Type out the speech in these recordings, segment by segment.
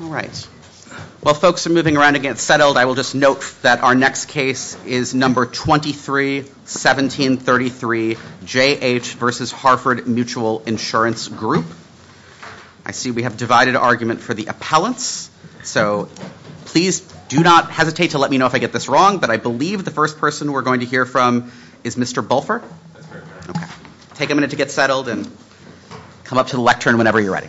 All right. While folks are moving around to get settled, I will just note that our next case is No. 23-1733, J.H. v. Harford Mutual Insurance Group. I see we have divided argument for the appellants, so please do not hesitate to let me know if I get this wrong, but I believe the first person we're going to hear from is Mr. Bolfer. Take a minute to get settled and come up to the lectern whenever you're ready.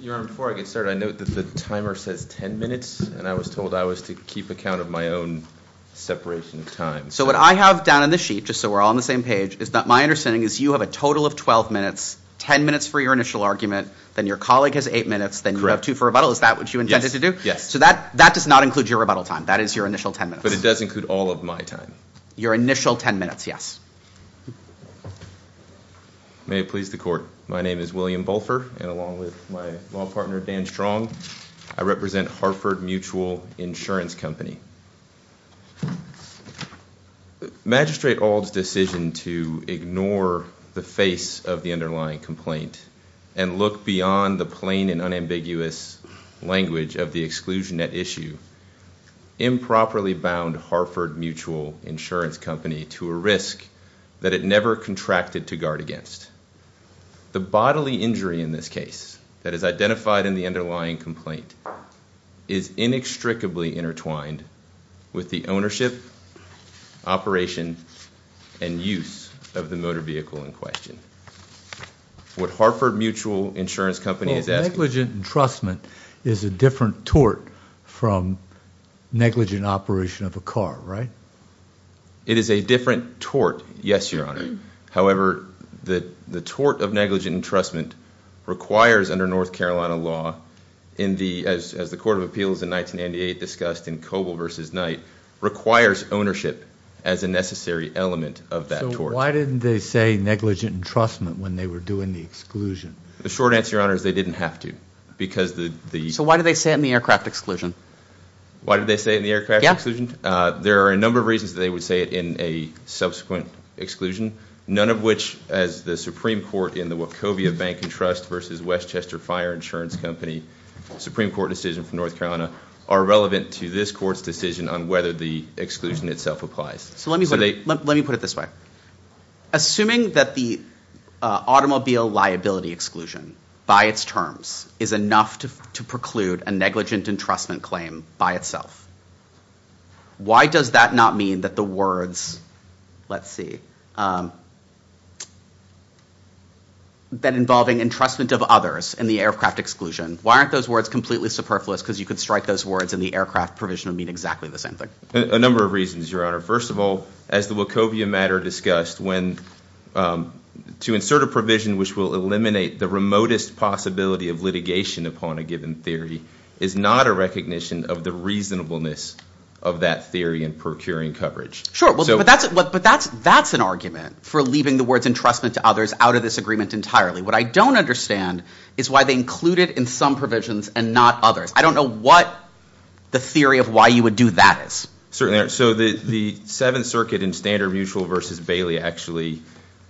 Your Honor, before I get started, I note that the timer says 10 minutes, and I was told I was to keep account of my own separation of time. So what I have down on this sheet, just so we're all on the same page, is that my understanding is you have a total of 12 minutes, 10 minutes for your initial argument, then your colleague has 8 minutes, then you have 2 for rebuttal. Is that what you intended to do? So that does not include your rebuttal time. That is your initial 10 minutes. But it does include all of my time. Your initial 10 minutes, yes. May it please the Court. My name is William Bolfer, and along with my law partner Dan Strong, I represent Harford Mutual Insurance Company. Magistrate Auld's decision to ignore the face of the underlying complaint and look beyond the plain and unambiguous language of the exclusion at issue improperly bound Harford Mutual Insurance Company to a risk that it never contracted to guard against. The bodily injury in this case that is identified in the underlying complaint is inextricably intertwined with the ownership, operation, and use of the motor vehicle in question. What Harford Mutual Insurance Company is asking... Well, negligent entrustment is a different tort from negligent operation of a car, right? It is a different tort, yes, Your Honor. However, the tort of negligent entrustment requires under North Carolina law, as the Court of Appeals in 1998 discussed in Coble v. Knight, requires ownership as a necessary element of that tort. So why didn't they say negligent entrustment when they were doing the exclusion? The short answer, Your Honor, is they didn't have to because the... So why did they say it in the aircraft exclusion? Why did they say it in the aircraft exclusion? There are a number of reasons they would say it in a subsequent exclusion, none of which, as the Supreme Court in the Wachovia Bank and Trust v. Westchester Fire Insurance Company Supreme Court decision for North Carolina, are relevant to this court's decision on whether the exclusion itself applies. So let me put it this way. Assuming that the automobile liability exclusion by its terms is enough to preclude a negligent entrustment claim by itself, why does that not mean that the words, let's see, that involving entrustment of others in the aircraft exclusion, why aren't those words completely superfluous because you could strike those words and the aircraft provision would mean exactly the same thing? A number of reasons, Your Honor. First of all, as the Wachovia matter discussed, to insert a provision which will eliminate the remotest possibility of litigation upon a given theory is not a recognition of the reasonableness of that theory in procuring coverage. Sure, but that's an argument for leaving the words entrustment to others out of this agreement entirely. What I don't understand is why they include it in some provisions and not others. I don't know what the theory of why you would do that is. Certainly. So the Seventh Circuit in Standard Mutual versus Bailey actually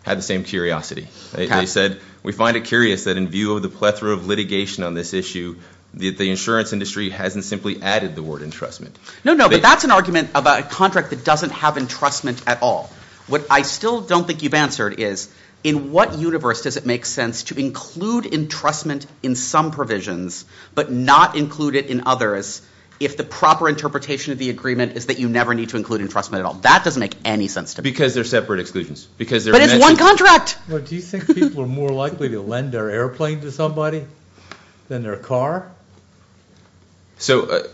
had the same curiosity. They said, we find it curious that in view of the plethora of litigation on this issue, the insurance industry hasn't simply added the word entrustment. No, no, but that's an argument about a contract that doesn't have entrustment at all. What I still don't think you've answered is in what universe does it make sense to include entrustment in some provisions but not include it in others if the proper interpretation of the agreement is that you never need to include entrustment at all. That doesn't make any sense to me. Because they're separate exclusions. But it's one contract. Do you think people are more likely to lend their airplane to somebody than their car? So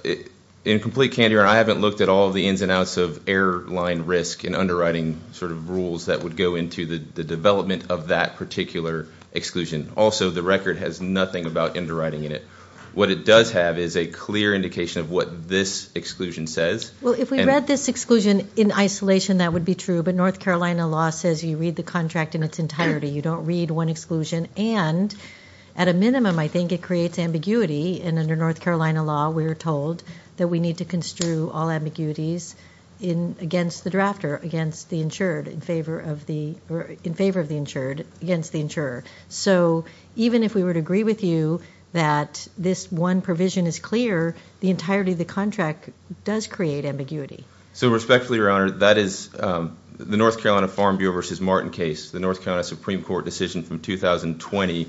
in complete candor, I haven't looked at all the ins and outs of airline risk and underwriting sort of rules that would go into the development of that particular exclusion. Also, the record has nothing about underwriting in it. What it does have is a clear indication of what this exclusion says. Well, if we read this exclusion in isolation, that would be true. But North Carolina law says you read the contract in its entirety. You don't read one exclusion. And at a minimum, I think it creates ambiguity. And under North Carolina law, we are told that we need to construe all ambiguities against the drafter, against the insured, in favor of the insured, against the insurer. So even if we were to agree with you that this one provision is clear, the entirety of the contract does create ambiguity. So respectfully, Your Honor, that is the North Carolina Farm Bureau v. Martin case. The North Carolina Supreme Court decision from 2020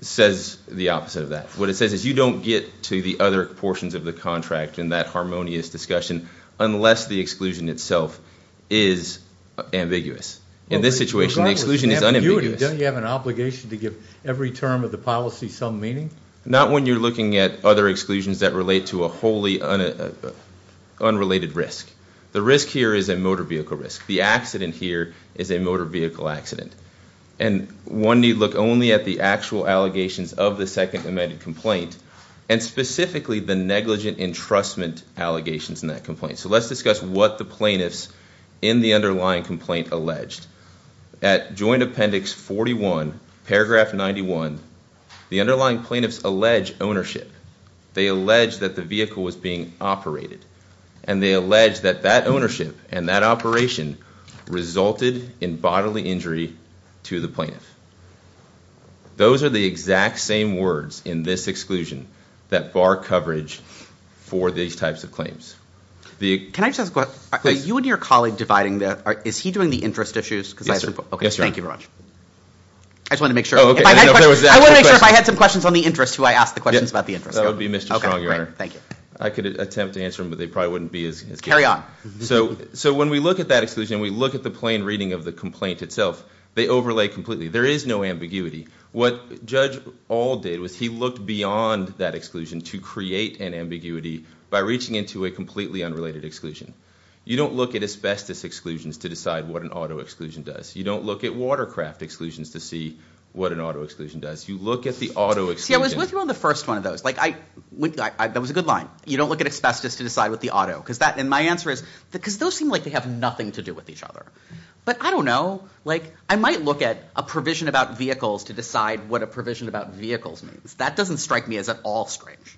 says the opposite of that. What it says is you don't get to the other portions of the contract in that harmonious discussion unless the exclusion itself is ambiguous. In this situation, the exclusion is unambiguous. Don't you have an obligation to give every term of the policy some meaning? Not when you're looking at other exclusions that relate to a wholly unrelated risk. The risk here is a motor vehicle risk. The accident here is a motor vehicle accident. And one need look only at the actual allegations of the second amended complaint and specifically the negligent entrustment allegations in that complaint. So let's discuss what the plaintiffs in the underlying complaint alleged. At Joint Appendix 41, Paragraph 91, the underlying plaintiffs allege ownership. They allege that the vehicle was being operated. And they allege that that ownership and that operation resulted in bodily injury to the plaintiff. Those are the exact same words in this exclusion that bar coverage for these types of claims. Can I just ask a question? Are you and your colleague dividing that? Is he doing the interest issues? Yes, sir. Okay, thank you very much. I just wanted to make sure. Oh, okay. I wanted to make sure if I had some questions on the interest who I asked the questions about the interest. That would be Mr. Strong, Your Honor. Okay, great. Thank you. I could attempt to answer them, but they probably wouldn't be as good. Carry on. So when we look at that exclusion, we look at the plain reading of the complaint itself. They overlay completely. There is no ambiguity. What Judge Auld did was he looked beyond that exclusion to create an ambiguity by reaching into a completely unrelated exclusion. You don't look at asbestos exclusions to decide what an auto exclusion does. You don't look at watercraft exclusions to see what an auto exclusion does. You look at the auto exclusion. See, I was with you on the first one of those. That was a good line. You don't look at asbestos to decide what the auto. And my answer is because those seem like they have nothing to do with each other. But I don't know. Like, I might look at a provision about vehicles to decide what a provision about vehicles means. That doesn't strike me as at all strange.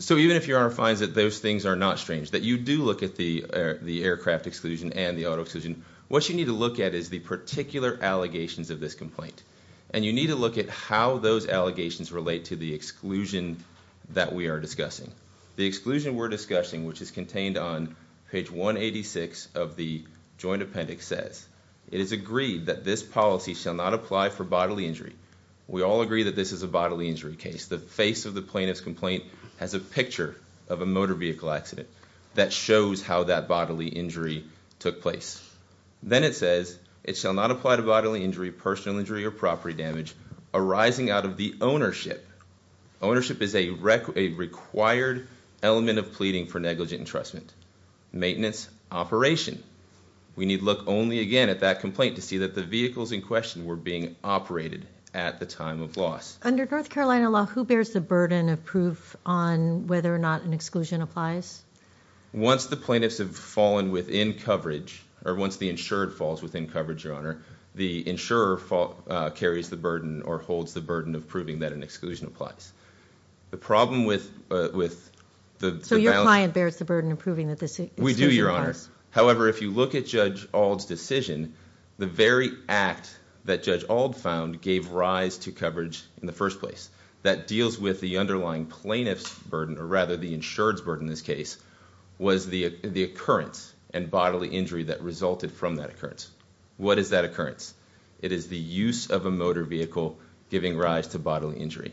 So even if Your Honor finds that those things are not strange, that you do look at the aircraft exclusion and the auto exclusion, what you need to look at is the particular allegations of this complaint. And you need to look at how those allegations relate to the exclusion that we are discussing. The exclusion we're discussing, which is contained on page 186 of the joint appendix, says, it is agreed that this policy shall not apply for bodily injury. We all agree that this is a bodily injury case. The face of the plaintiff's complaint has a picture of a motor vehicle accident that shows how that bodily injury took place. Then it says, it shall not apply to bodily injury, personal injury, or property damage arising out of the ownership. Ownership is a required element of pleading for negligent entrustment. Maintenance, operation. We need look only again at that complaint to see that the vehicles in question were being operated at the time of loss. Under North Carolina law, who bears the burden of proof on whether or not an exclusion applies? Once the plaintiffs have fallen within coverage, or once the insured falls within coverage, Your Honor, the insurer carries the burden or holds the burden of proving that an exclusion applies. The problem with- So your client bears the burden of proving that this exclusion applies? However, if you look at Judge Auld's decision, the very act that Judge Auld found gave rise to coverage in the first place. That deals with the underlying plaintiff's burden, or rather the insured's burden in this case, was the occurrence and bodily injury that resulted from that occurrence. What is that occurrence? It is the use of a motor vehicle giving rise to bodily injury.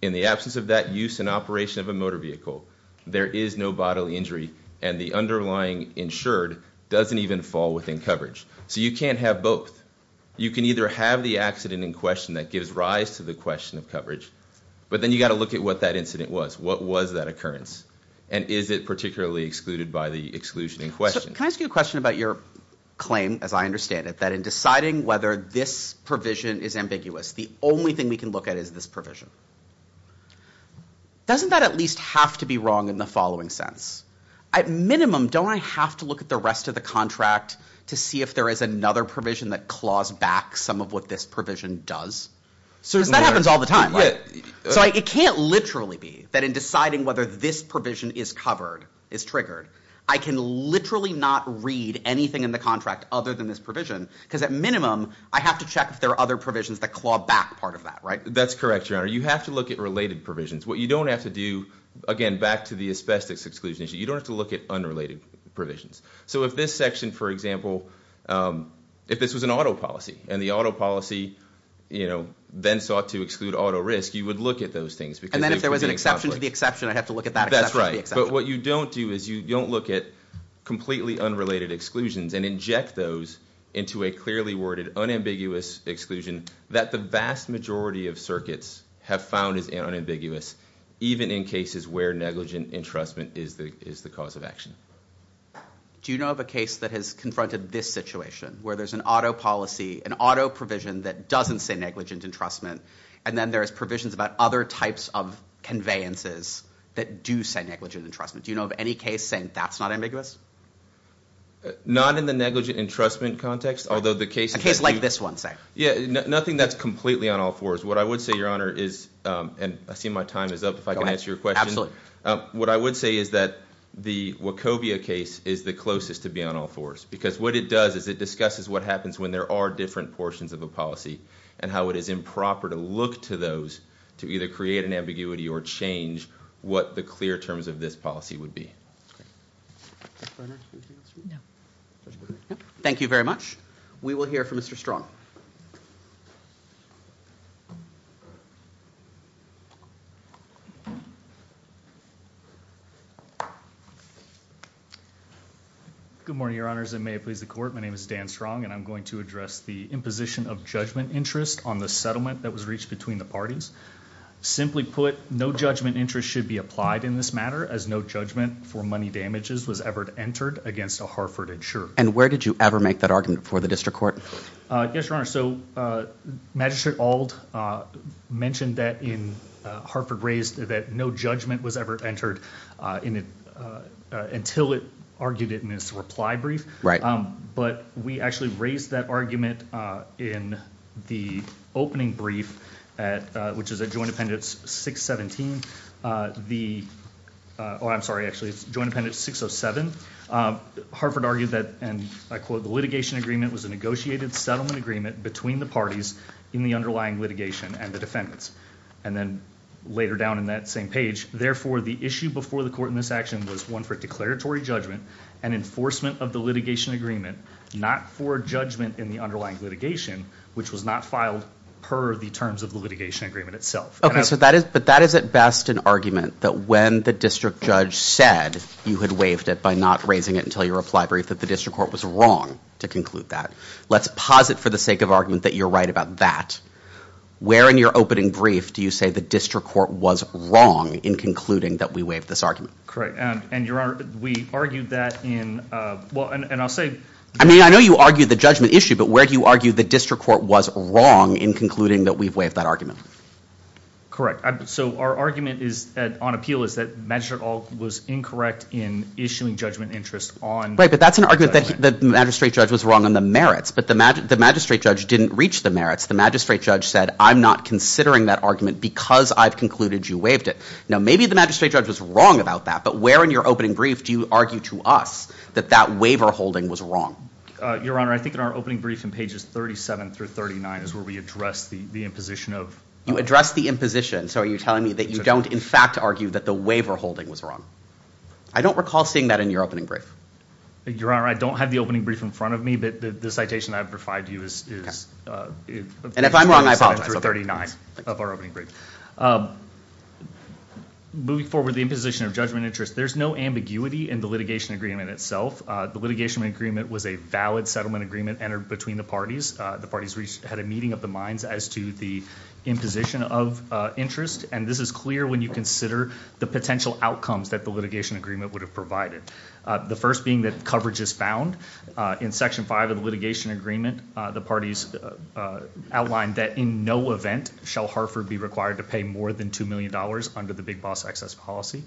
In the absence of that use and operation of a motor vehicle, there is no bodily injury, and the underlying insured doesn't even fall within coverage. So you can't have both. You can either have the accident in question that gives rise to the question of coverage, but then you've got to look at what that incident was. What was that occurrence? And is it particularly excluded by the exclusion in question? Can I ask you a question about your claim, as I understand it, that in deciding whether this provision is ambiguous, the only thing we can look at is this provision? Doesn't that at least have to be wrong in the following sense? At minimum, don't I have to look at the rest of the contract to see if there is another provision that claws back some of what this provision does? Because that happens all the time, right? So it can't literally be that in deciding whether this provision is covered, is triggered, I can literally not read anything in the contract other than this provision, because at minimum, I have to check if there are other provisions that claw back part of that, right? That's correct, Your Honor. You have to look at related provisions. What you don't have to do, again, back to the asbestos exclusion issue, you don't have to look at unrelated provisions. So if this section, for example, if this was an auto policy, and the auto policy then sought to exclude auto risk, you would look at those things. And then if there was an exception to the exception, I'd have to look at that exception. But what you don't do is you don't look at completely unrelated exclusions and inject those into a clearly worded unambiguous exclusion that the vast majority of circuits have found is unambiguous, even in cases where negligent entrustment is the cause of action. Do you know of a case that has confronted this situation, where there's an auto policy, an auto provision that doesn't say negligent entrustment, and then there's provisions about other types of conveyances that do say negligent entrustment? Do you know of any case saying that's not ambiguous? Not in the negligent entrustment context, although the case may be. A case like this one, say. Yeah, nothing that's completely on all fours. What I would say, Your Honor, is, and I see my time is up, if I can answer your question. What I would say is that the Wachovia case is the closest to being on all fours because what it does is it discusses what happens when there are different portions of a policy and how it is improper to look to those to either create an ambiguity or change what the clear terms of this policy would be. Thank you very much. We will hear from Mr. Strong. Good morning, Your Honors, and may it please the Court. My name is Dan Strong, and I'm going to address the imposition of judgment interest on the settlement that was reached between the parties. Simply put, no judgment interest should be applied in this matter as no judgment for money damages was ever entered against a Hartford insurer. And where did you ever make that argument before the district court? Yes, Your Honor, so Magistrate Auld mentioned that in Hartford raised that no judgment was ever entered until it argued it in its reply brief. Right. But we actually raised that argument in the opening brief, which is at Joint Appendix 617. Oh, I'm sorry, actually it's Joint Appendix 607. Hartford argued that, and I quote, the litigation agreement was a negotiated settlement agreement between the parties in the underlying litigation and the defendants. And then later down in that same page, therefore the issue before the court in this action was one for declaratory judgment and enforcement of the litigation agreement, not for judgment in the underlying litigation, which was not filed per the terms of the litigation agreement itself. Okay, but that is at best an argument that when the district judge said you had waived it by not raising it until your reply brief that the district court was wrong to conclude that. Let's posit for the sake of argument that you're right about that. Where in your opening brief do you say the district court was wrong in concluding that we waived this argument? Correct, and, Your Honor, we argued that in, well, and I'll say I mean, I know you argued the judgment issue, but where do you argue the district court was wrong in concluding that we've waived that argument? Correct, so our argument on appeal is that Magistrate Alt was incorrect in issuing judgment interest on Right, but that's an argument that the magistrate judge was wrong on the merits, but the magistrate judge didn't reach the merits. The magistrate judge said I'm not considering that argument because I've concluded you waived it. Now, maybe the magistrate judge was wrong about that, but where in your opening brief do you argue to us that that waiver holding was wrong? Your Honor, I think in our opening brief in pages 37 through 39 is where we address the imposition of You address the imposition, so are you telling me that you don't, in fact, argue that the waiver holding was wrong? I don't recall seeing that in your opening brief. Your Honor, I don't have the opening brief in front of me, but the citation I've provided to you is And if I'm wrong, I apologize. Moving forward, the imposition of judgment interest, there's no ambiguity in the litigation agreement itself. The litigation agreement was a valid settlement agreement entered between the parties. The parties had a meeting of the minds as to the imposition of interest, and this is clear when you consider the potential outcomes that the litigation agreement would have provided, the first being that coverage is found. In Section 5 of the litigation agreement, the parties outlined that in no event shall Harford be required to pay more than $2 million under the Big Boss Excess Policy.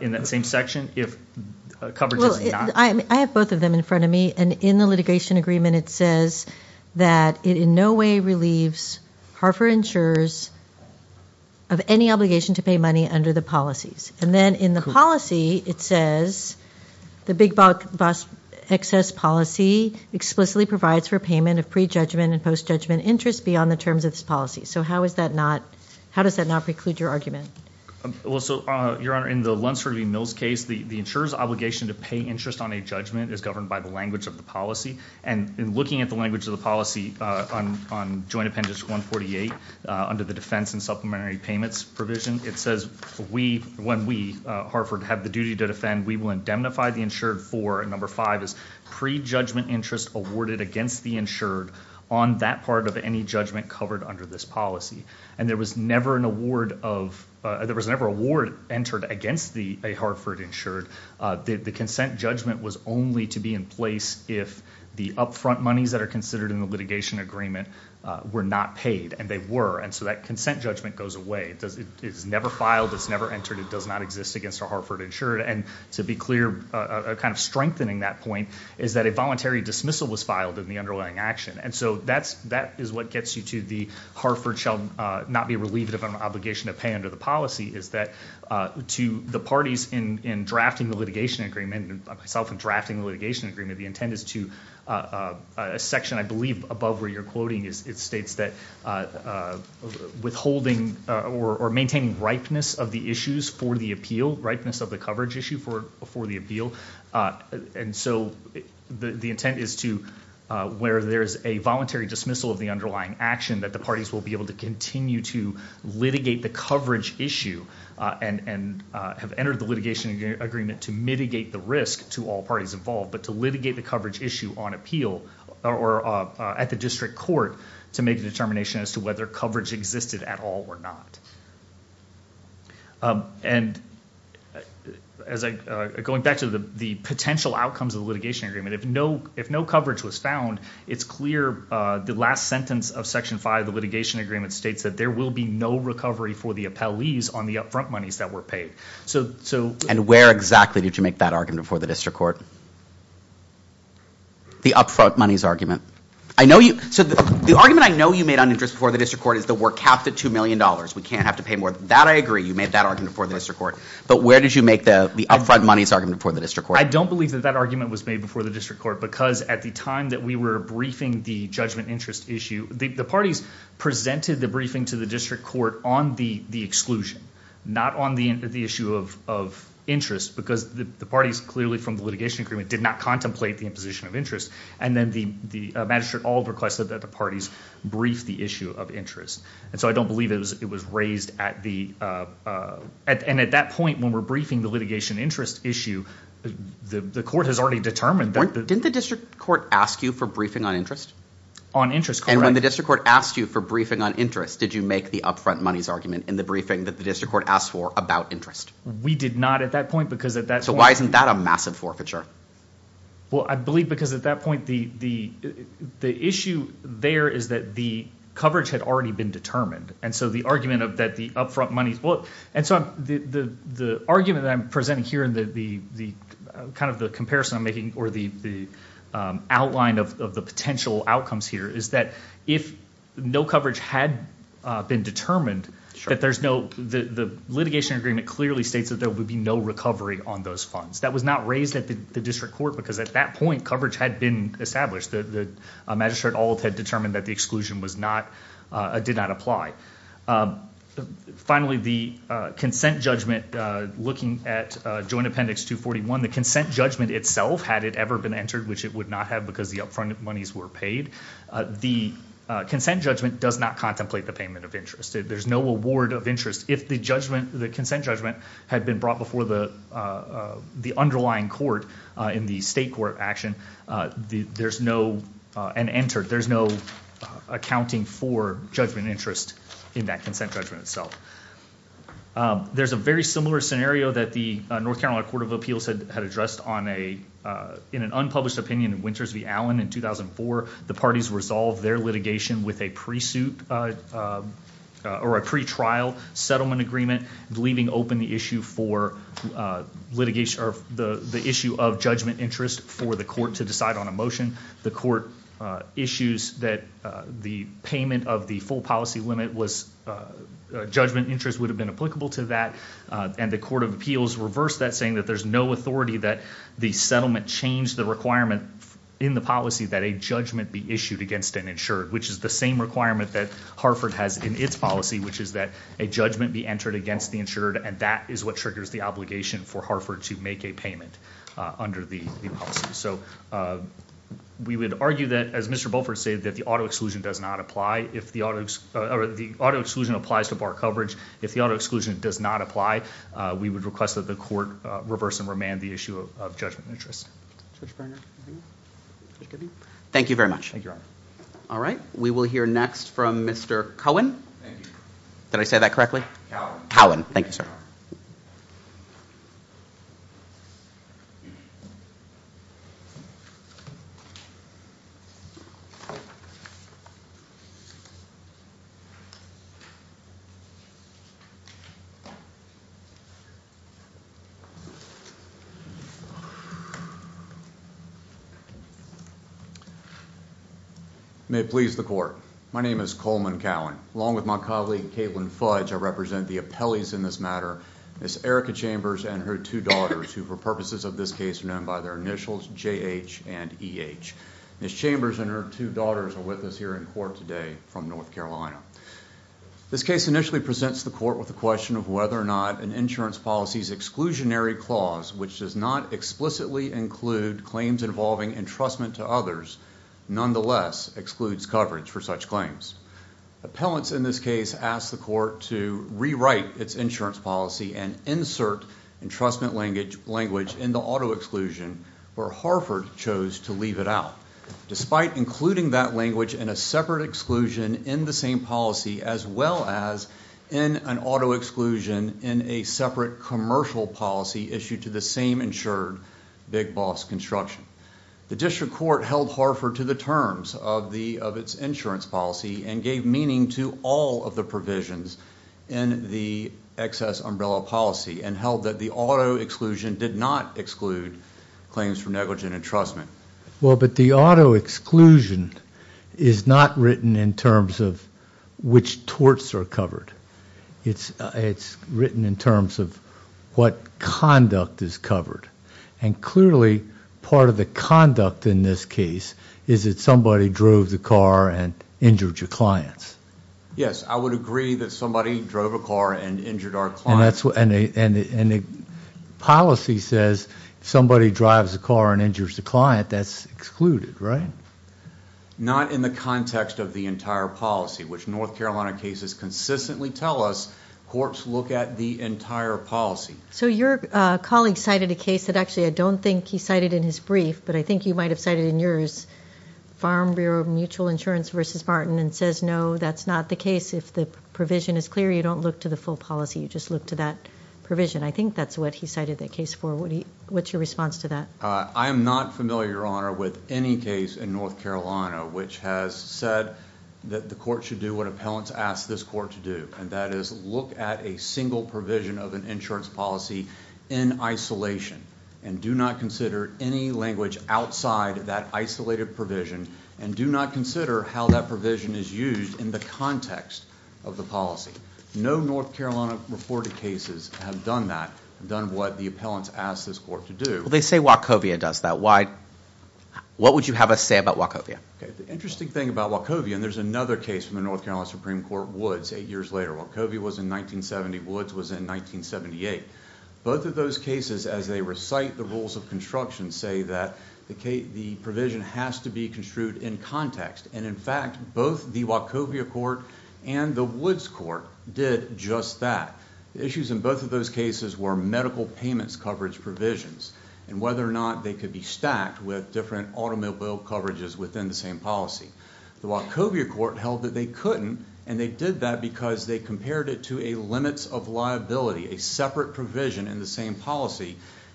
In that same section, if coverage is not Well, I have both of them in front of me, and in the litigation agreement it says that it in no way relieves Harford insurers of any obligation to pay money under the policies. And then in the policy it says the Big Boss Excess Policy explicitly provides for payment of pre-judgment and post-judgment interest beyond the terms of this policy. So how does that not preclude your argument? Well, so, Your Honor, in the Lunceford v. Mills case, the insurer's obligation to pay interest on a judgment is governed by the language of the policy. And in looking at the language of the policy on Joint Appendix 148, under the defense and supplementary payments provision, it says when we, Harford, have the duty to defend, we will indemnify the insured for number five is pre-judgment interest awarded against the insured on that part of any judgment covered under this policy. And there was never an award of, there was never an award entered against a Harford insured. The consent judgment was only to be in place if the upfront monies that are considered in the litigation agreement were not paid, and they were, and so that consent judgment goes away. It is never filed, it's never entered, it does not exist against a Harford insured. And to be clear, kind of strengthening that point, is that a voluntary dismissal was filed in the underlying action. And so that is what gets you to the Harford shall not be relieved of an obligation to pay under the policy, is that to the parties in drafting the litigation agreement, myself in drafting the litigation agreement, the intent is to, a section I believe above where you're quoting, it states that withholding or maintaining ripeness of the issues for the appeal, ripeness of the coverage issue for the appeal. And so the intent is to, where there's a voluntary dismissal of the underlying action, that the parties will be able to continue to litigate the coverage issue and have entered the litigation agreement to mitigate the risk to all parties involved, but to litigate the coverage issue on appeal or at the district court to make a determination as to whether coverage existed at all or not. And going back to the potential outcomes of the litigation agreement, if no coverage was found, it's clear the last sentence of section five of the litigation agreement states that there will be no recovery for the appellees on the upfront monies that were paid. And where exactly did you make that argument before the district court? The upfront monies argument. So the argument I know you made on interest before the district court is that we're capped at $2 million. We can't have to pay more. That I agree. You made that argument before the district court. But where did you make the upfront monies argument before the district court? I don't believe that that argument was made before the district court because at the time that we were briefing the judgment interest issue, the parties presented the briefing to the district court on the exclusion, not on the issue of interest because the parties clearly from the litigation agreement did not contemplate the imposition of interest. And then the magistrate all requested that the parties brief the issue of interest. And so I don't believe it was raised at the... And at that point when we're briefing the litigation interest issue, the court has already determined that... Didn't the district court ask you for briefing on interest? On interest, correct. And when the district court asked you for briefing on interest, did you make the upfront monies argument in the briefing that the district court asked for about interest? We did not at that point because at that point... So why isn't that a massive forfeiture? Well, I believe because at that point the issue there is that the coverage had already been determined. And so the argument of that the upfront monies... And so the argument that I'm presenting here in the kind of the comparison I'm making or the outline of the potential outcomes here is that if no coverage had been determined, that there's no... The litigation agreement clearly states that there would be no recovery on those funds. That was not raised at the district court because at that point coverage had been established. The magistrate all had determined that the exclusion did not apply. Finally, the consent judgment looking at joint appendix 241, the consent judgment itself, had it ever been entered, which it would not have because the upfront monies were paid, the consent judgment does not contemplate the payment of interest. There's no award of interest. If the consent judgment had been brought before the underlying court in the state court action, there's no... Accounting for judgment interest in that consent judgment itself. There's a very similar scenario that the North Carolina Court of Appeals had addressed on a... In an unpublished opinion in Winters v. Allen in 2004, the parties resolved their litigation with a pre-trial settlement agreement leaving open the issue for litigation... The issue of judgment interest for the court to decide on a motion. The court issues that the payment of the full policy limit was... Judgment interest would have been applicable to that and the Court of Appeals reversed that saying that there's no authority that the settlement changed the requirement in the policy that a judgment be issued against an insured, which is the same requirement that Harford has in its policy, which is that a judgment be entered against the insured and that is what triggers the obligation for Harford to make a payment under the policy. So we would argue that, as Mr. Beaufort said, that the auto exclusion does not apply. If the auto exclusion applies to bar coverage, if the auto exclusion does not apply, we would request that the court reverse and remand the issue of judgment interest. Thank you very much. Thank you, Your Honor. All right, we will hear next from Mr. Cohen. Thank you. Did I say that correctly? Cowan. Cowan. Thank you, sir. May it please the Court. My name is Coleman Cowan. Along with my colleague, Caitlin Fudge, I represent the appellees in this matter, Ms. Erica Chambers and her two daughters, who, for purposes of this case, are known by their initials, J.H. and E.H. Ms. Chambers and her two daughters are with us here in court today from North Carolina. This case initially presents the court with the question of whether or not an insurance policy's exclusionary clause, which does not explicitly include claims involving entrustment to others, nonetheless excludes coverage for such claims. Appellants in this case ask the court to rewrite its insurance policy and insert entrustment language in the auto exclusion where Harford chose to leave it out, despite including that language in a separate exclusion in the same policy as well as in an auto exclusion in a separate commercial policy issued to the same insured Big Boss Construction. The district court held Harford to the terms of its insurance policy and gave meaning to all of the provisions in the excess umbrella policy and held that the auto exclusion did not exclude claims for negligent entrustment. Well, but the auto exclusion is not written in terms of which torts are covered. It's written in terms of what conduct is covered. And clearly, part of the conduct in this case is that somebody drove the car and injured your clients. Yes, I would agree that somebody drove a car and injured our clients. And the policy says somebody drives a car and injures the client, that's excluded, right? Not in the context of the entire policy, which North Carolina cases consistently tell us courts look at the entire policy. So your colleague cited a case that actually I don't think he cited in his brief, but I think you might have cited in yours, Farm Bureau Mutual Insurance v. Martin and says, no, that's not the case. If the provision is clear, you don't look to the full policy, you just look to that provision. I think that's what he cited that case for. What's your response to that? I am not familiar, Your Honor, with any case in North Carolina which has said that the court should do what appellants ask this court to do, and that is look at a single provision of an insurance policy in isolation and do not consider any language outside of that isolated provision and do not consider how that provision is used in the context of the policy. No North Carolina reported cases have done that, have done what the appellants ask this court to do. They say Wachovia does that. What would you have us say about Wachovia? The interesting thing about Wachovia, and there's another case from the North Carolina Supreme Court, Woods, eight years later. Wachovia was in 1970, Woods was in 1978. Both of those cases, as they recite the rules of construction, say that the provision has to be construed in context, and in fact, both the Wachovia court and the Woods court did just that. The issues in both of those cases were medical payments coverage provisions and whether or not they could be stacked with different automobile coverages within the same policy. The Wachovia court held that they couldn't, and they did that because they compared it to a limits of liability, a separate provision in the same policy,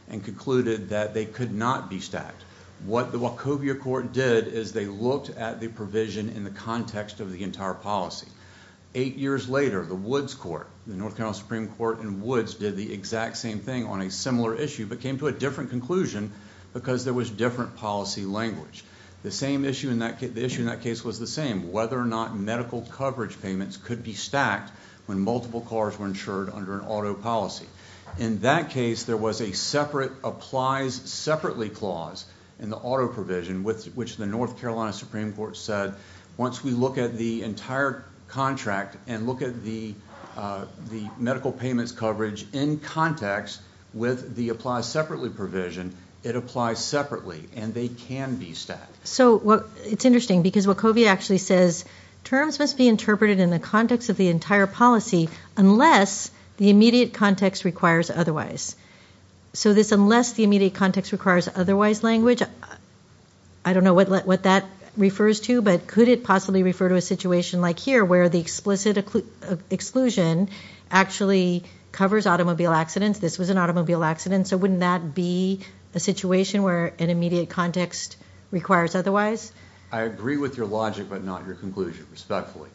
and concluded that they could not be stacked. What the Wachovia court did is they looked at the provision in the context of the entire policy. Eight years later, the Woods court, the North Carolina Supreme Court and Woods did the exact same thing on a similar issue but came to a different conclusion because there was different policy language. The issue in that case was the same, whether or not medical coverage payments could be stacked when multiple cars were insured under an auto policy. In that case, there was a separate applies separately clause in the auto provision which the North Carolina Supreme Court said once we look at the entire contract and look at the medical payments coverage in context with the applies separately provision, it applies separately and they can be stacked. It's interesting because Wachovia actually says terms must be interpreted in the context of the entire policy unless the immediate context requires otherwise. So this unless the immediate context requires otherwise language, I don't know what that refers to, but could it possibly refer to a situation like here where the explicit exclusion actually covers automobile accidents, this was an automobile accident, so wouldn't that be a situation where an immediate context requires otherwise? I agree with your logic but not your conclusion, respectfully.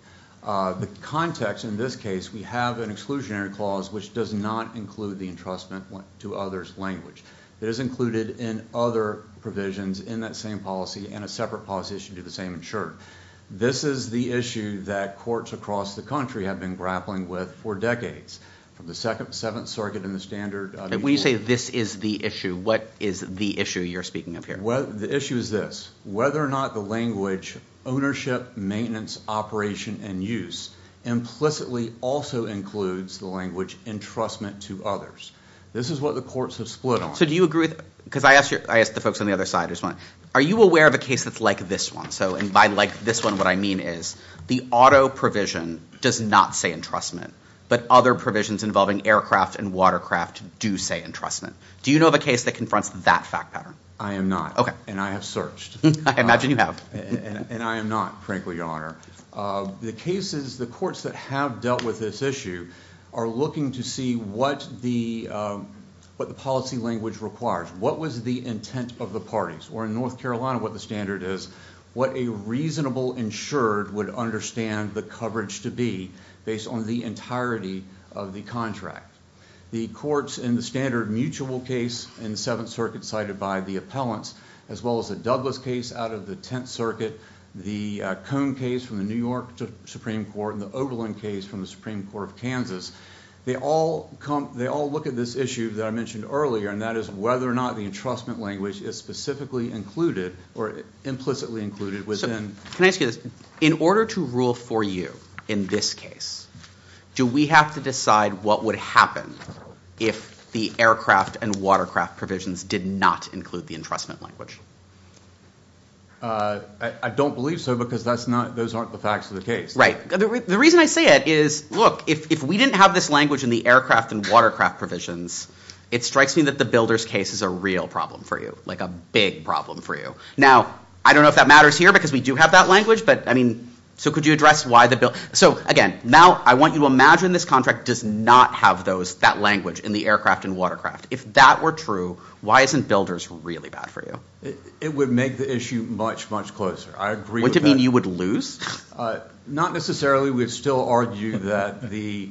The context in this case, we have an exclusionary clause which does not include the entrustment to others language. It is included in other provisions in that same policy and a separate policy that should do the same in short. This is the issue that courts across the country have been grappling with for decades from the second, seventh circuit and the standard. When you say this is the issue, what is the issue you're speaking of here? The issue is this, whether or not the language ownership, maintenance, operation and use implicitly also includes the language entrustment to others. This is what the courts have split on. So do you agree with, because I asked the folks on the other side, are you aware of a case that's like this one? And by like this one, what I mean is the auto provision does not say entrustment but other provisions involving aircraft and watercraft do say entrustment. Do you know of a case that confronts that fact pattern? I am not. And I have searched. I imagine you have. And I am not, frankly, Your Honor. The cases, the courts that have dealt with this issue are looking to see what the policy language requires. What was the intent of the parties? Or in North Carolina, what the standard is, what a reasonable insured would understand the coverage to be based on the entirety of the contract. The courts in the standard mutual case in the Seventh Circuit cited by the appellants, as well as the Douglas case out of the Tenth Circuit, the Cone case from the New York Supreme Court, and the Oberlin case from the Supreme Court of Kansas, they all look at this issue that I mentioned earlier, and that is whether or not the entrustment language is specifically included or implicitly included within... Can I ask you this? In order to rule for you in this case, do we have to decide what would happen if the aircraft and watercraft provisions did not include the entrustment language? I don't believe so because those aren't the facts of the case. Right. The reason I say it is, look, if we didn't have this language in the aircraft and watercraft provisions, it strikes me that the builders case is a real problem for you, like a big problem for you. Now, I don't know if that matters here because we do have that language, but, I mean, so could you address why the... So, again, now I want you to imagine this contract does not have that language in the aircraft and watercraft. If that were true, why isn't builders really bad for you? It would make the issue much, much closer. I agree with that. Would it mean you would lose? Not necessarily. We would still argue that the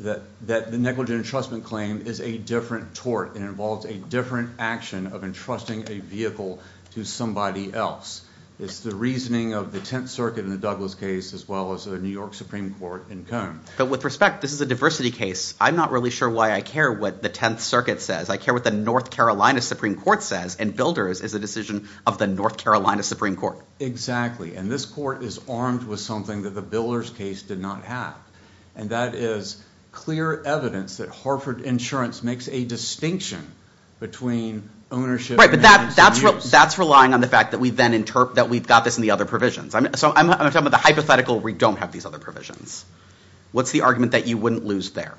negligent entrustment claim is a different tort and involves a different action of entrusting a vehicle to somebody else. It's the reasoning of the Tenth Circuit in the Douglas case as well as the New York Supreme Court in Cone. But with respect, this is a diversity case. I'm not really sure why I care what the Tenth Circuit says. I care what the North Carolina Supreme Court says, and builders is a decision of the North Carolina Supreme Court. Exactly. And this court is armed with something that the Builders case did not have, and that is clear evidence that Harford Insurance makes a distinction between ownership and agency use. Right, but that's relying on the fact that we've got this in the other provisions. So I'm talking about the hypothetical where we don't have these other provisions. What's the argument that you wouldn't lose there?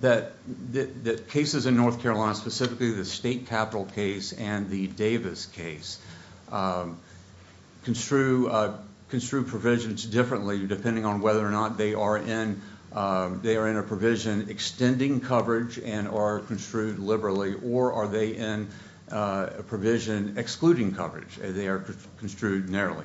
That cases in North Carolina, specifically the State Capital case and the Davis case, construe provisions differently depending on whether or not they are in a provision extending coverage and are construed liberally, or are they in a provision excluding coverage and they are construed narrowly?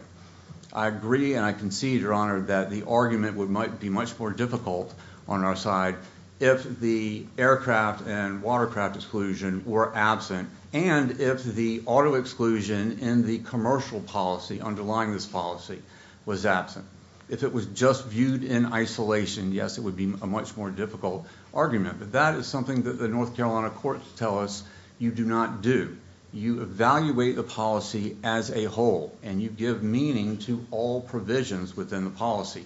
I agree and I concede, Your Honor, that the argument might be much more difficult on our side if the aircraft and watercraft exclusion were absent and if the auto exclusion in the commercial policy underlying this policy was absent. If it was just viewed in isolation, yes, it would be a much more difficult argument, but that is something that the North Carolina courts tell us you do not do. You evaluate the policy as a whole and you give meaning to all provisions within the policy.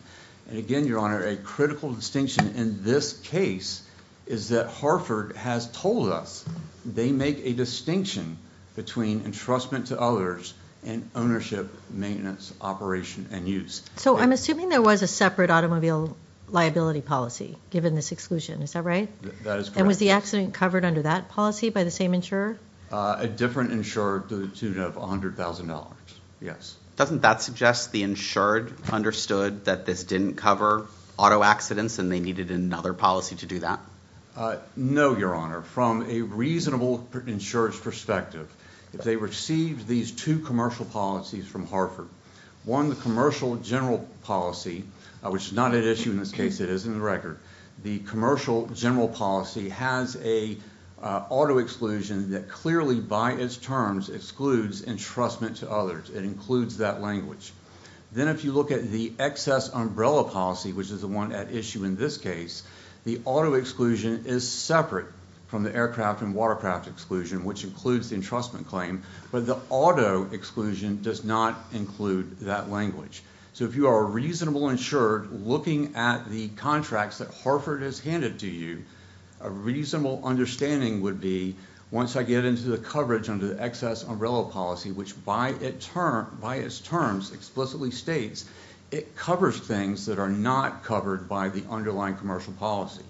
And again, Your Honor, a critical distinction in this case is that Harford has told us they make a distinction between entrustment to others and ownership, maintenance, operation, and use. So I'm assuming there was a separate automobile liability policy given this exclusion, is that right? That is correct. And was the accident covered under that policy by the same insurer? A different insurer to the tune of $100,000, yes. Doesn't that suggest the insured understood that this didn't cover auto accidents and they needed another policy to do that? No, Your Honor. From a reasonable insurer's perspective, if they received these two commercial policies from Harford, one, the commercial general policy, which is not at issue in this case, it is in the record. The commercial general policy has a auto exclusion that clearly by its terms excludes entrustment to others. It includes that language. Then if you look at the excess umbrella policy, which is the one at issue in this case, the auto exclusion is separate from the aircraft and watercraft exclusion, which includes the entrustment claim, but the auto exclusion does not include that language. So if you are a reasonable insured, looking at the contracts that Harford has handed to you, a reasonable understanding would be once I get into the coverage under the excess umbrella policy, which by its terms explicitly states it covers things that are not covered by the underlying commercial policy.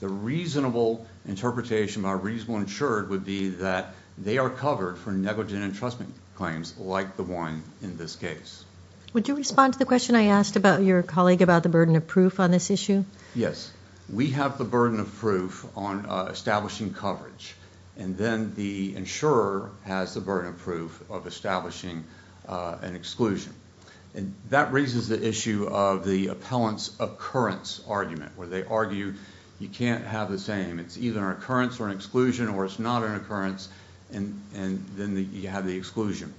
The reasonable interpretation by a reasonable insured would be that they are covered for negligent entrustment claims like the one in this case. Would you respond to the question I asked about your colleague about the burden of proof on this issue? Yes. We have the burden of proof on establishing coverage, and then the insurer has the burden of proof of establishing an exclusion. And that raises the issue of the appellant's occurrence argument, where they argue you can't have the same. It's either an occurrence or an exclusion, or it's not an occurrence, and then you have the exclusion.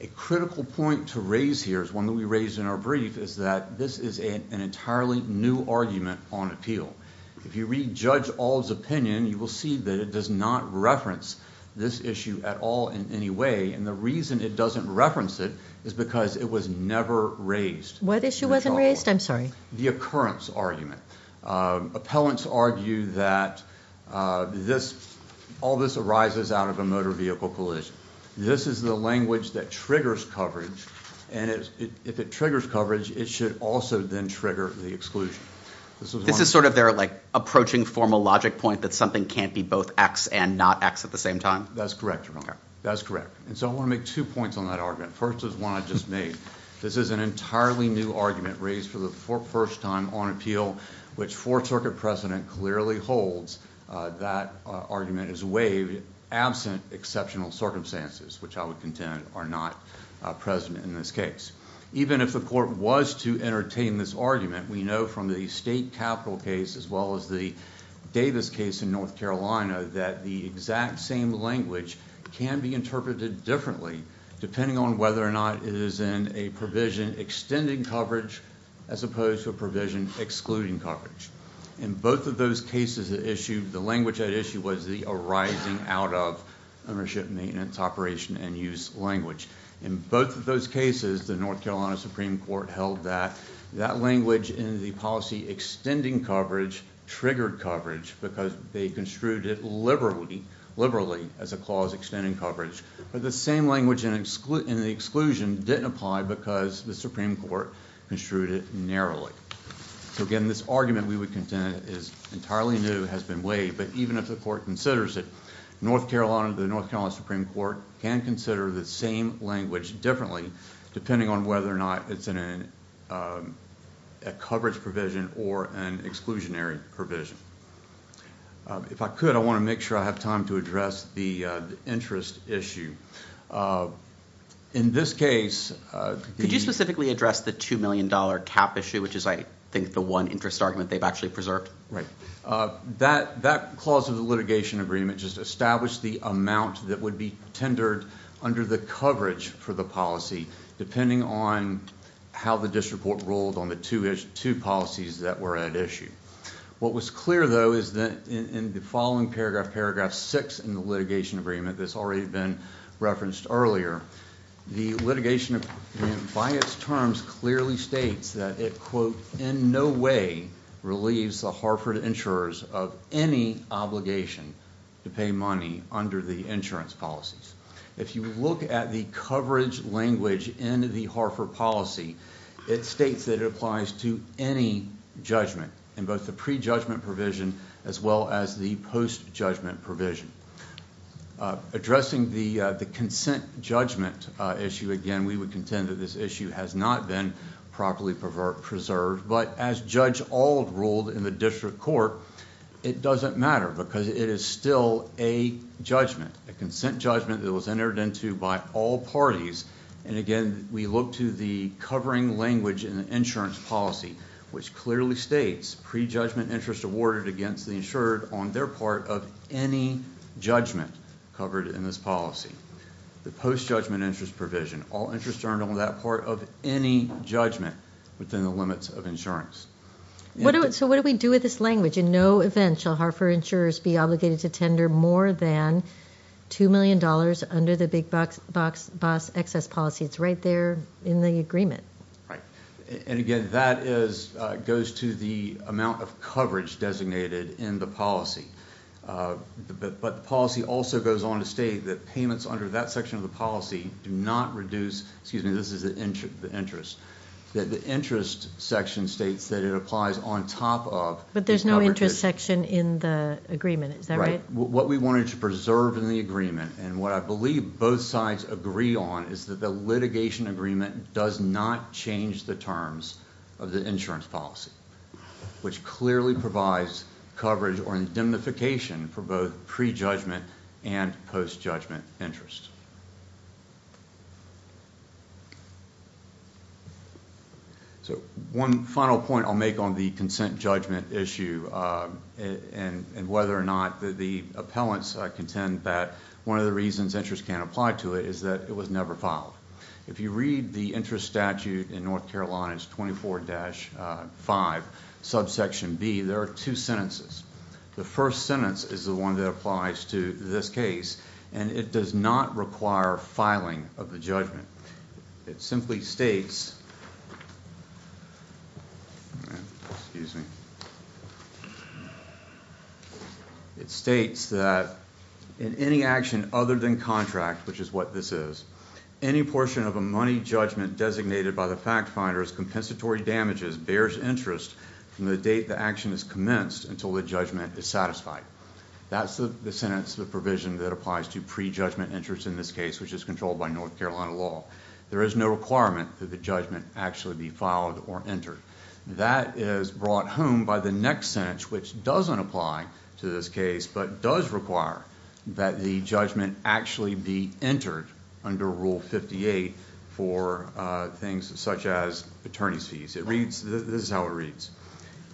A critical point to raise here is one that we raised in our brief, is that this is an entirely new argument on appeal. If you read Judge Ald's opinion, you will see that it does not reference this issue at all in any way, and the reason it doesn't reference it is because it was never raised. What issue wasn't raised? I'm sorry. The occurrence argument. Appellants argue that all this arises out of a motor vehicle collision. This is the language that triggers coverage, and if it triggers coverage, it should also then trigger the exclusion. This is sort of their approaching formal logic point that something can't be both X and not X at the same time? That's correct, Your Honor. That's correct. I want to make two points on that argument. First is one I just made. This is an entirely new argument raised for the first time on appeal, which Fourth Circuit precedent clearly holds. That argument is waived absent exceptional circumstances, which I would contend are not present in this case. Even if the court was to entertain this argument, we know from the state capital case as well as the Davis case in North Carolina that the exact same language can be interpreted differently depending on whether or not it is in a provision extending coverage as opposed to a provision excluding coverage. In both of those cases, the language at issue was the arising out of ownership, maintenance, operation, and use language. In both of those cases, the North Carolina Supreme Court held that that language in the policy extending coverage triggered coverage because they construed it liberally as a clause extending coverage, but the same language in the exclusion didn't apply because the Supreme Court construed it narrowly. Again, this argument we would contend is entirely new, has been waived, but even if the court considers it, North Carolina, the North Carolina Supreme Court, can consider the same language differently depending on whether or not it's a coverage provision or an exclusionary provision. If I could, I want to make sure I have time to address the interest issue. In this case... Could you specifically address the $2 million cap issue, which is, I think, the one interest argument they've actually preserved? Right. That clause of the litigation agreement just established the amount that would be tendered under the coverage for the policy depending on how the district board ruled on the two policies that were at issue. What was clear, though, is that in the following paragraph, paragraph 6 in the litigation agreement that's already been referenced earlier, the litigation agreement, by its terms, clearly states that it, quote, in no way relieves the Hartford insurers of any obligation to pay money under the insurance policies. If you look at the coverage language in the Hartford policy, it states that it applies to any judgment, in both the pre-judgment provision as well as the post-judgment provision. Addressing the consent judgment issue again, we would contend that this issue has not been properly preserved, but as Judge Auld ruled in the district court, it doesn't matter because it is still a judgment, a consent judgment that was entered into by all parties. And again, we look to the covering language in the insurance policy, which clearly states pre-judgment interest awarded against the insurer on their part of any judgment covered in this policy. The post-judgment interest provision, all interest earned on that part of any judgment within the limits of insurance. So what do we do with this language? In no event shall Hartford insurers be obligated to tender more than $2 million under the big-box excess policy. It's right there in the agreement. Right. And again, that goes to the amount of coverage designated in the policy. But the policy also goes on to state that payments under that section of the policy do not reduce, excuse me, this is the interest, that the interest section states that it applies on top of... But there's no interest section in the agreement. Right. What we wanted to preserve in the agreement, and what I believe both sides agree on, is that the litigation agreement does not change the terms of the insurance policy, which clearly provides coverage or indemnification for both pre-judgment and post-judgment interest. So one final point I'll make on the consent judgment issue and whether or not the appellants contend that one of the reasons interest can't apply to it is that it was never filed. If you read the interest statute in North Carolina, it's 24-5, subsection B, there are two sentences. The first sentence is the one that applies to this case, and it does not require filing of the judgment. It simply states... Excuse me. It states that in any action other than contract, which is what this is, any portion of a money judgment designated by the fact-finder as compensatory damages bears interest from the date the action is commenced until the judgment is satisfied. That's the sentence, the provision, that applies to pre-judgment interest in this case, which is controlled by North Carolina law. There is no requirement that the judgment actually be filed or entered. That is brought home by the next sentence, which doesn't apply to this case but does require that the judgment actually be entered under Rule 58 for things such as attorney's fees. This is how it reads.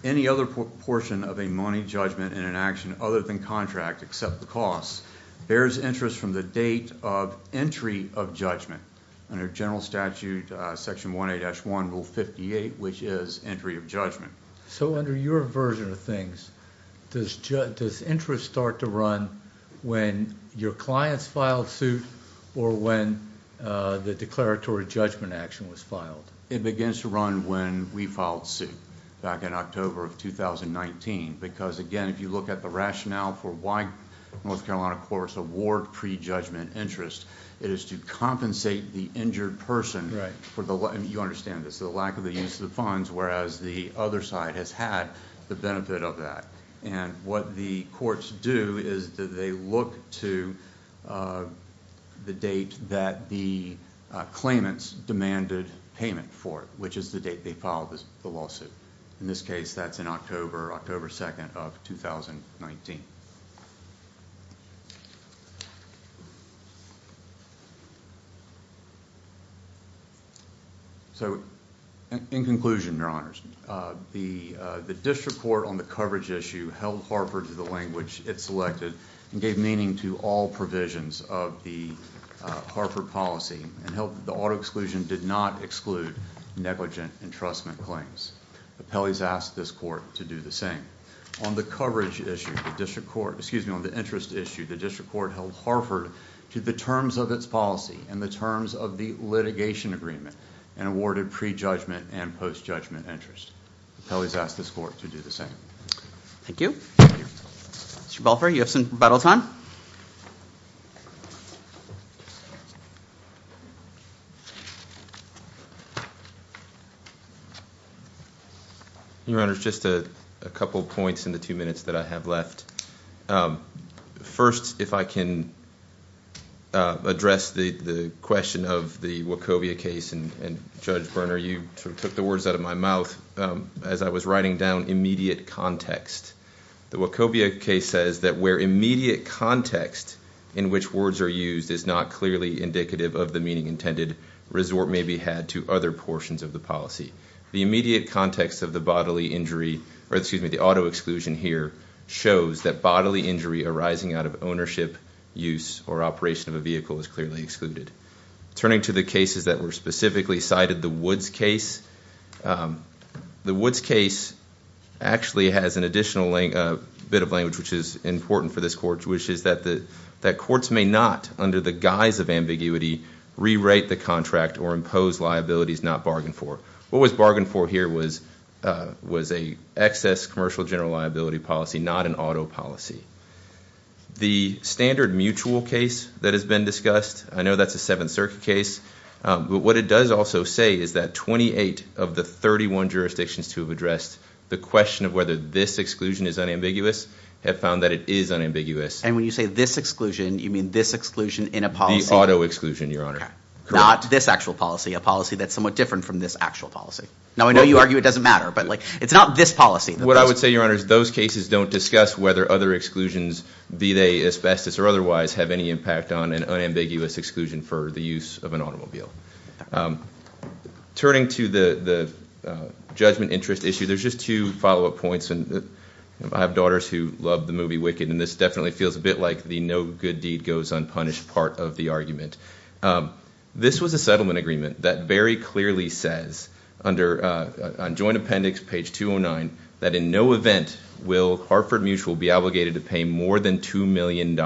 Any other portion of a money judgment in an action other than contract except the costs bears interest from the date of entry of judgment. Under general statute, Section 18-1, Rule 58, which is entry of judgment. So under your version of things, does interest start to run when your clients filed suit or when the declaratory judgment action was filed? It begins to run when we filed suit back in October of 2019 because, again, if you look at the rationale for why North Carolina courts award pre-judgment interest, it is to compensate the injured person. You understand this. The lack of the use of the funds, whereas the other side has had the benefit of that. What the courts do is they look to the date that the claimants demanded payment for it, which is the date they filed the lawsuit. In this case, that's in October 2nd of 2019. So in conclusion, Your Honors, the district court on the coverage issue held Harford to the language it selected and gave meaning to all provisions of the Harford policy and held that the auto exclusion did not exclude negligent entrustment claims. The appellees asked this court to do the same. On the interest issue, the district court held Harford to the terms of its policy and the terms of the litigation agreement and awarded pre-judgment and post-judgment interest. Appellees asked this court to do the same. Thank you. Mr. Balfour, you have some rebuttal time. Your Honors, just a couple points in the two minutes that I have left. First, if I can address the question of the Wachovia case, and Judge Berner, you took the words out of my mouth as I was writing down immediate context. The Wachovia case says that where immediate context in which words are used is not clearly indicative of the meaning intended, resort may be had to other portions of the policy. The immediate context of the bodily injury, or excuse me, the auto exclusion here, shows that bodily injury arising out of ownership, use, or operation of a vehicle is clearly excluded. Turning to the cases that were specifically cited, the Woods case. The Woods case actually has an additional bit of language which is important for this court, which is that courts may not, under the guise of ambiguity, rewrite the contract or impose liabilities not bargained for. What was bargained for here was an excess commercial general liability policy, not an auto policy. The standard mutual case that has been discussed, I know that's a Seventh Circuit case, but what it does also say is that 28 of the 31 jurisdictions to have addressed the question of whether this exclusion is unambiguous have found that it is unambiguous. And when you say this exclusion, you mean this exclusion in a policy? The auto exclusion, Your Honor. Not this actual policy, a policy that's somewhat different from this actual policy. Now I know you argue it doesn't matter, but it's not this policy. What I would say, Your Honor, is those cases don't discuss whether other exclusions, be they asbestos or otherwise, have any impact on an unambiguous exclusion for the use of an automobile. Turning to the judgment interest issue, there's just two follow-up points, and I have daughters who love the movie Wicked, and this definitely feels a bit like the no good deed goes unpunished part of the argument. This was a settlement agreement that very clearly says on joint appendix, page 209, that in no event will Hartford Mutual be obligated to pay more than $2 million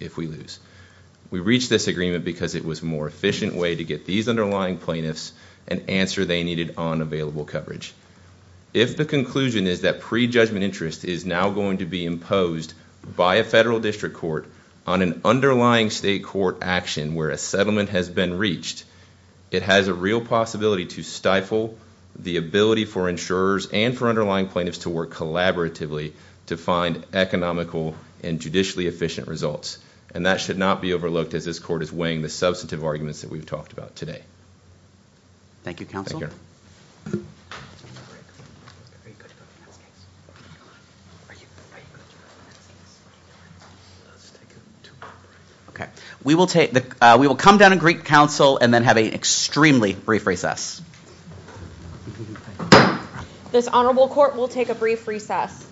if we lose. We reached this agreement because it was a more efficient way to get these underlying plaintiffs an answer they needed on available coverage. If the conclusion is that pre-judgment interest is now going to be imposed by a federal district court on an underlying state court action where a settlement has been reached, it has a real possibility to stifle the ability for insurers and for underlying plaintiffs to work collaboratively to find economical and judicially efficient results, and that should not be overlooked as this court is weighing the substantive arguments that we've talked about today. Thank you, counsel. Thank you. We will come down and greet counsel and then have an extremely brief recess. This honorable court will take a brief recess.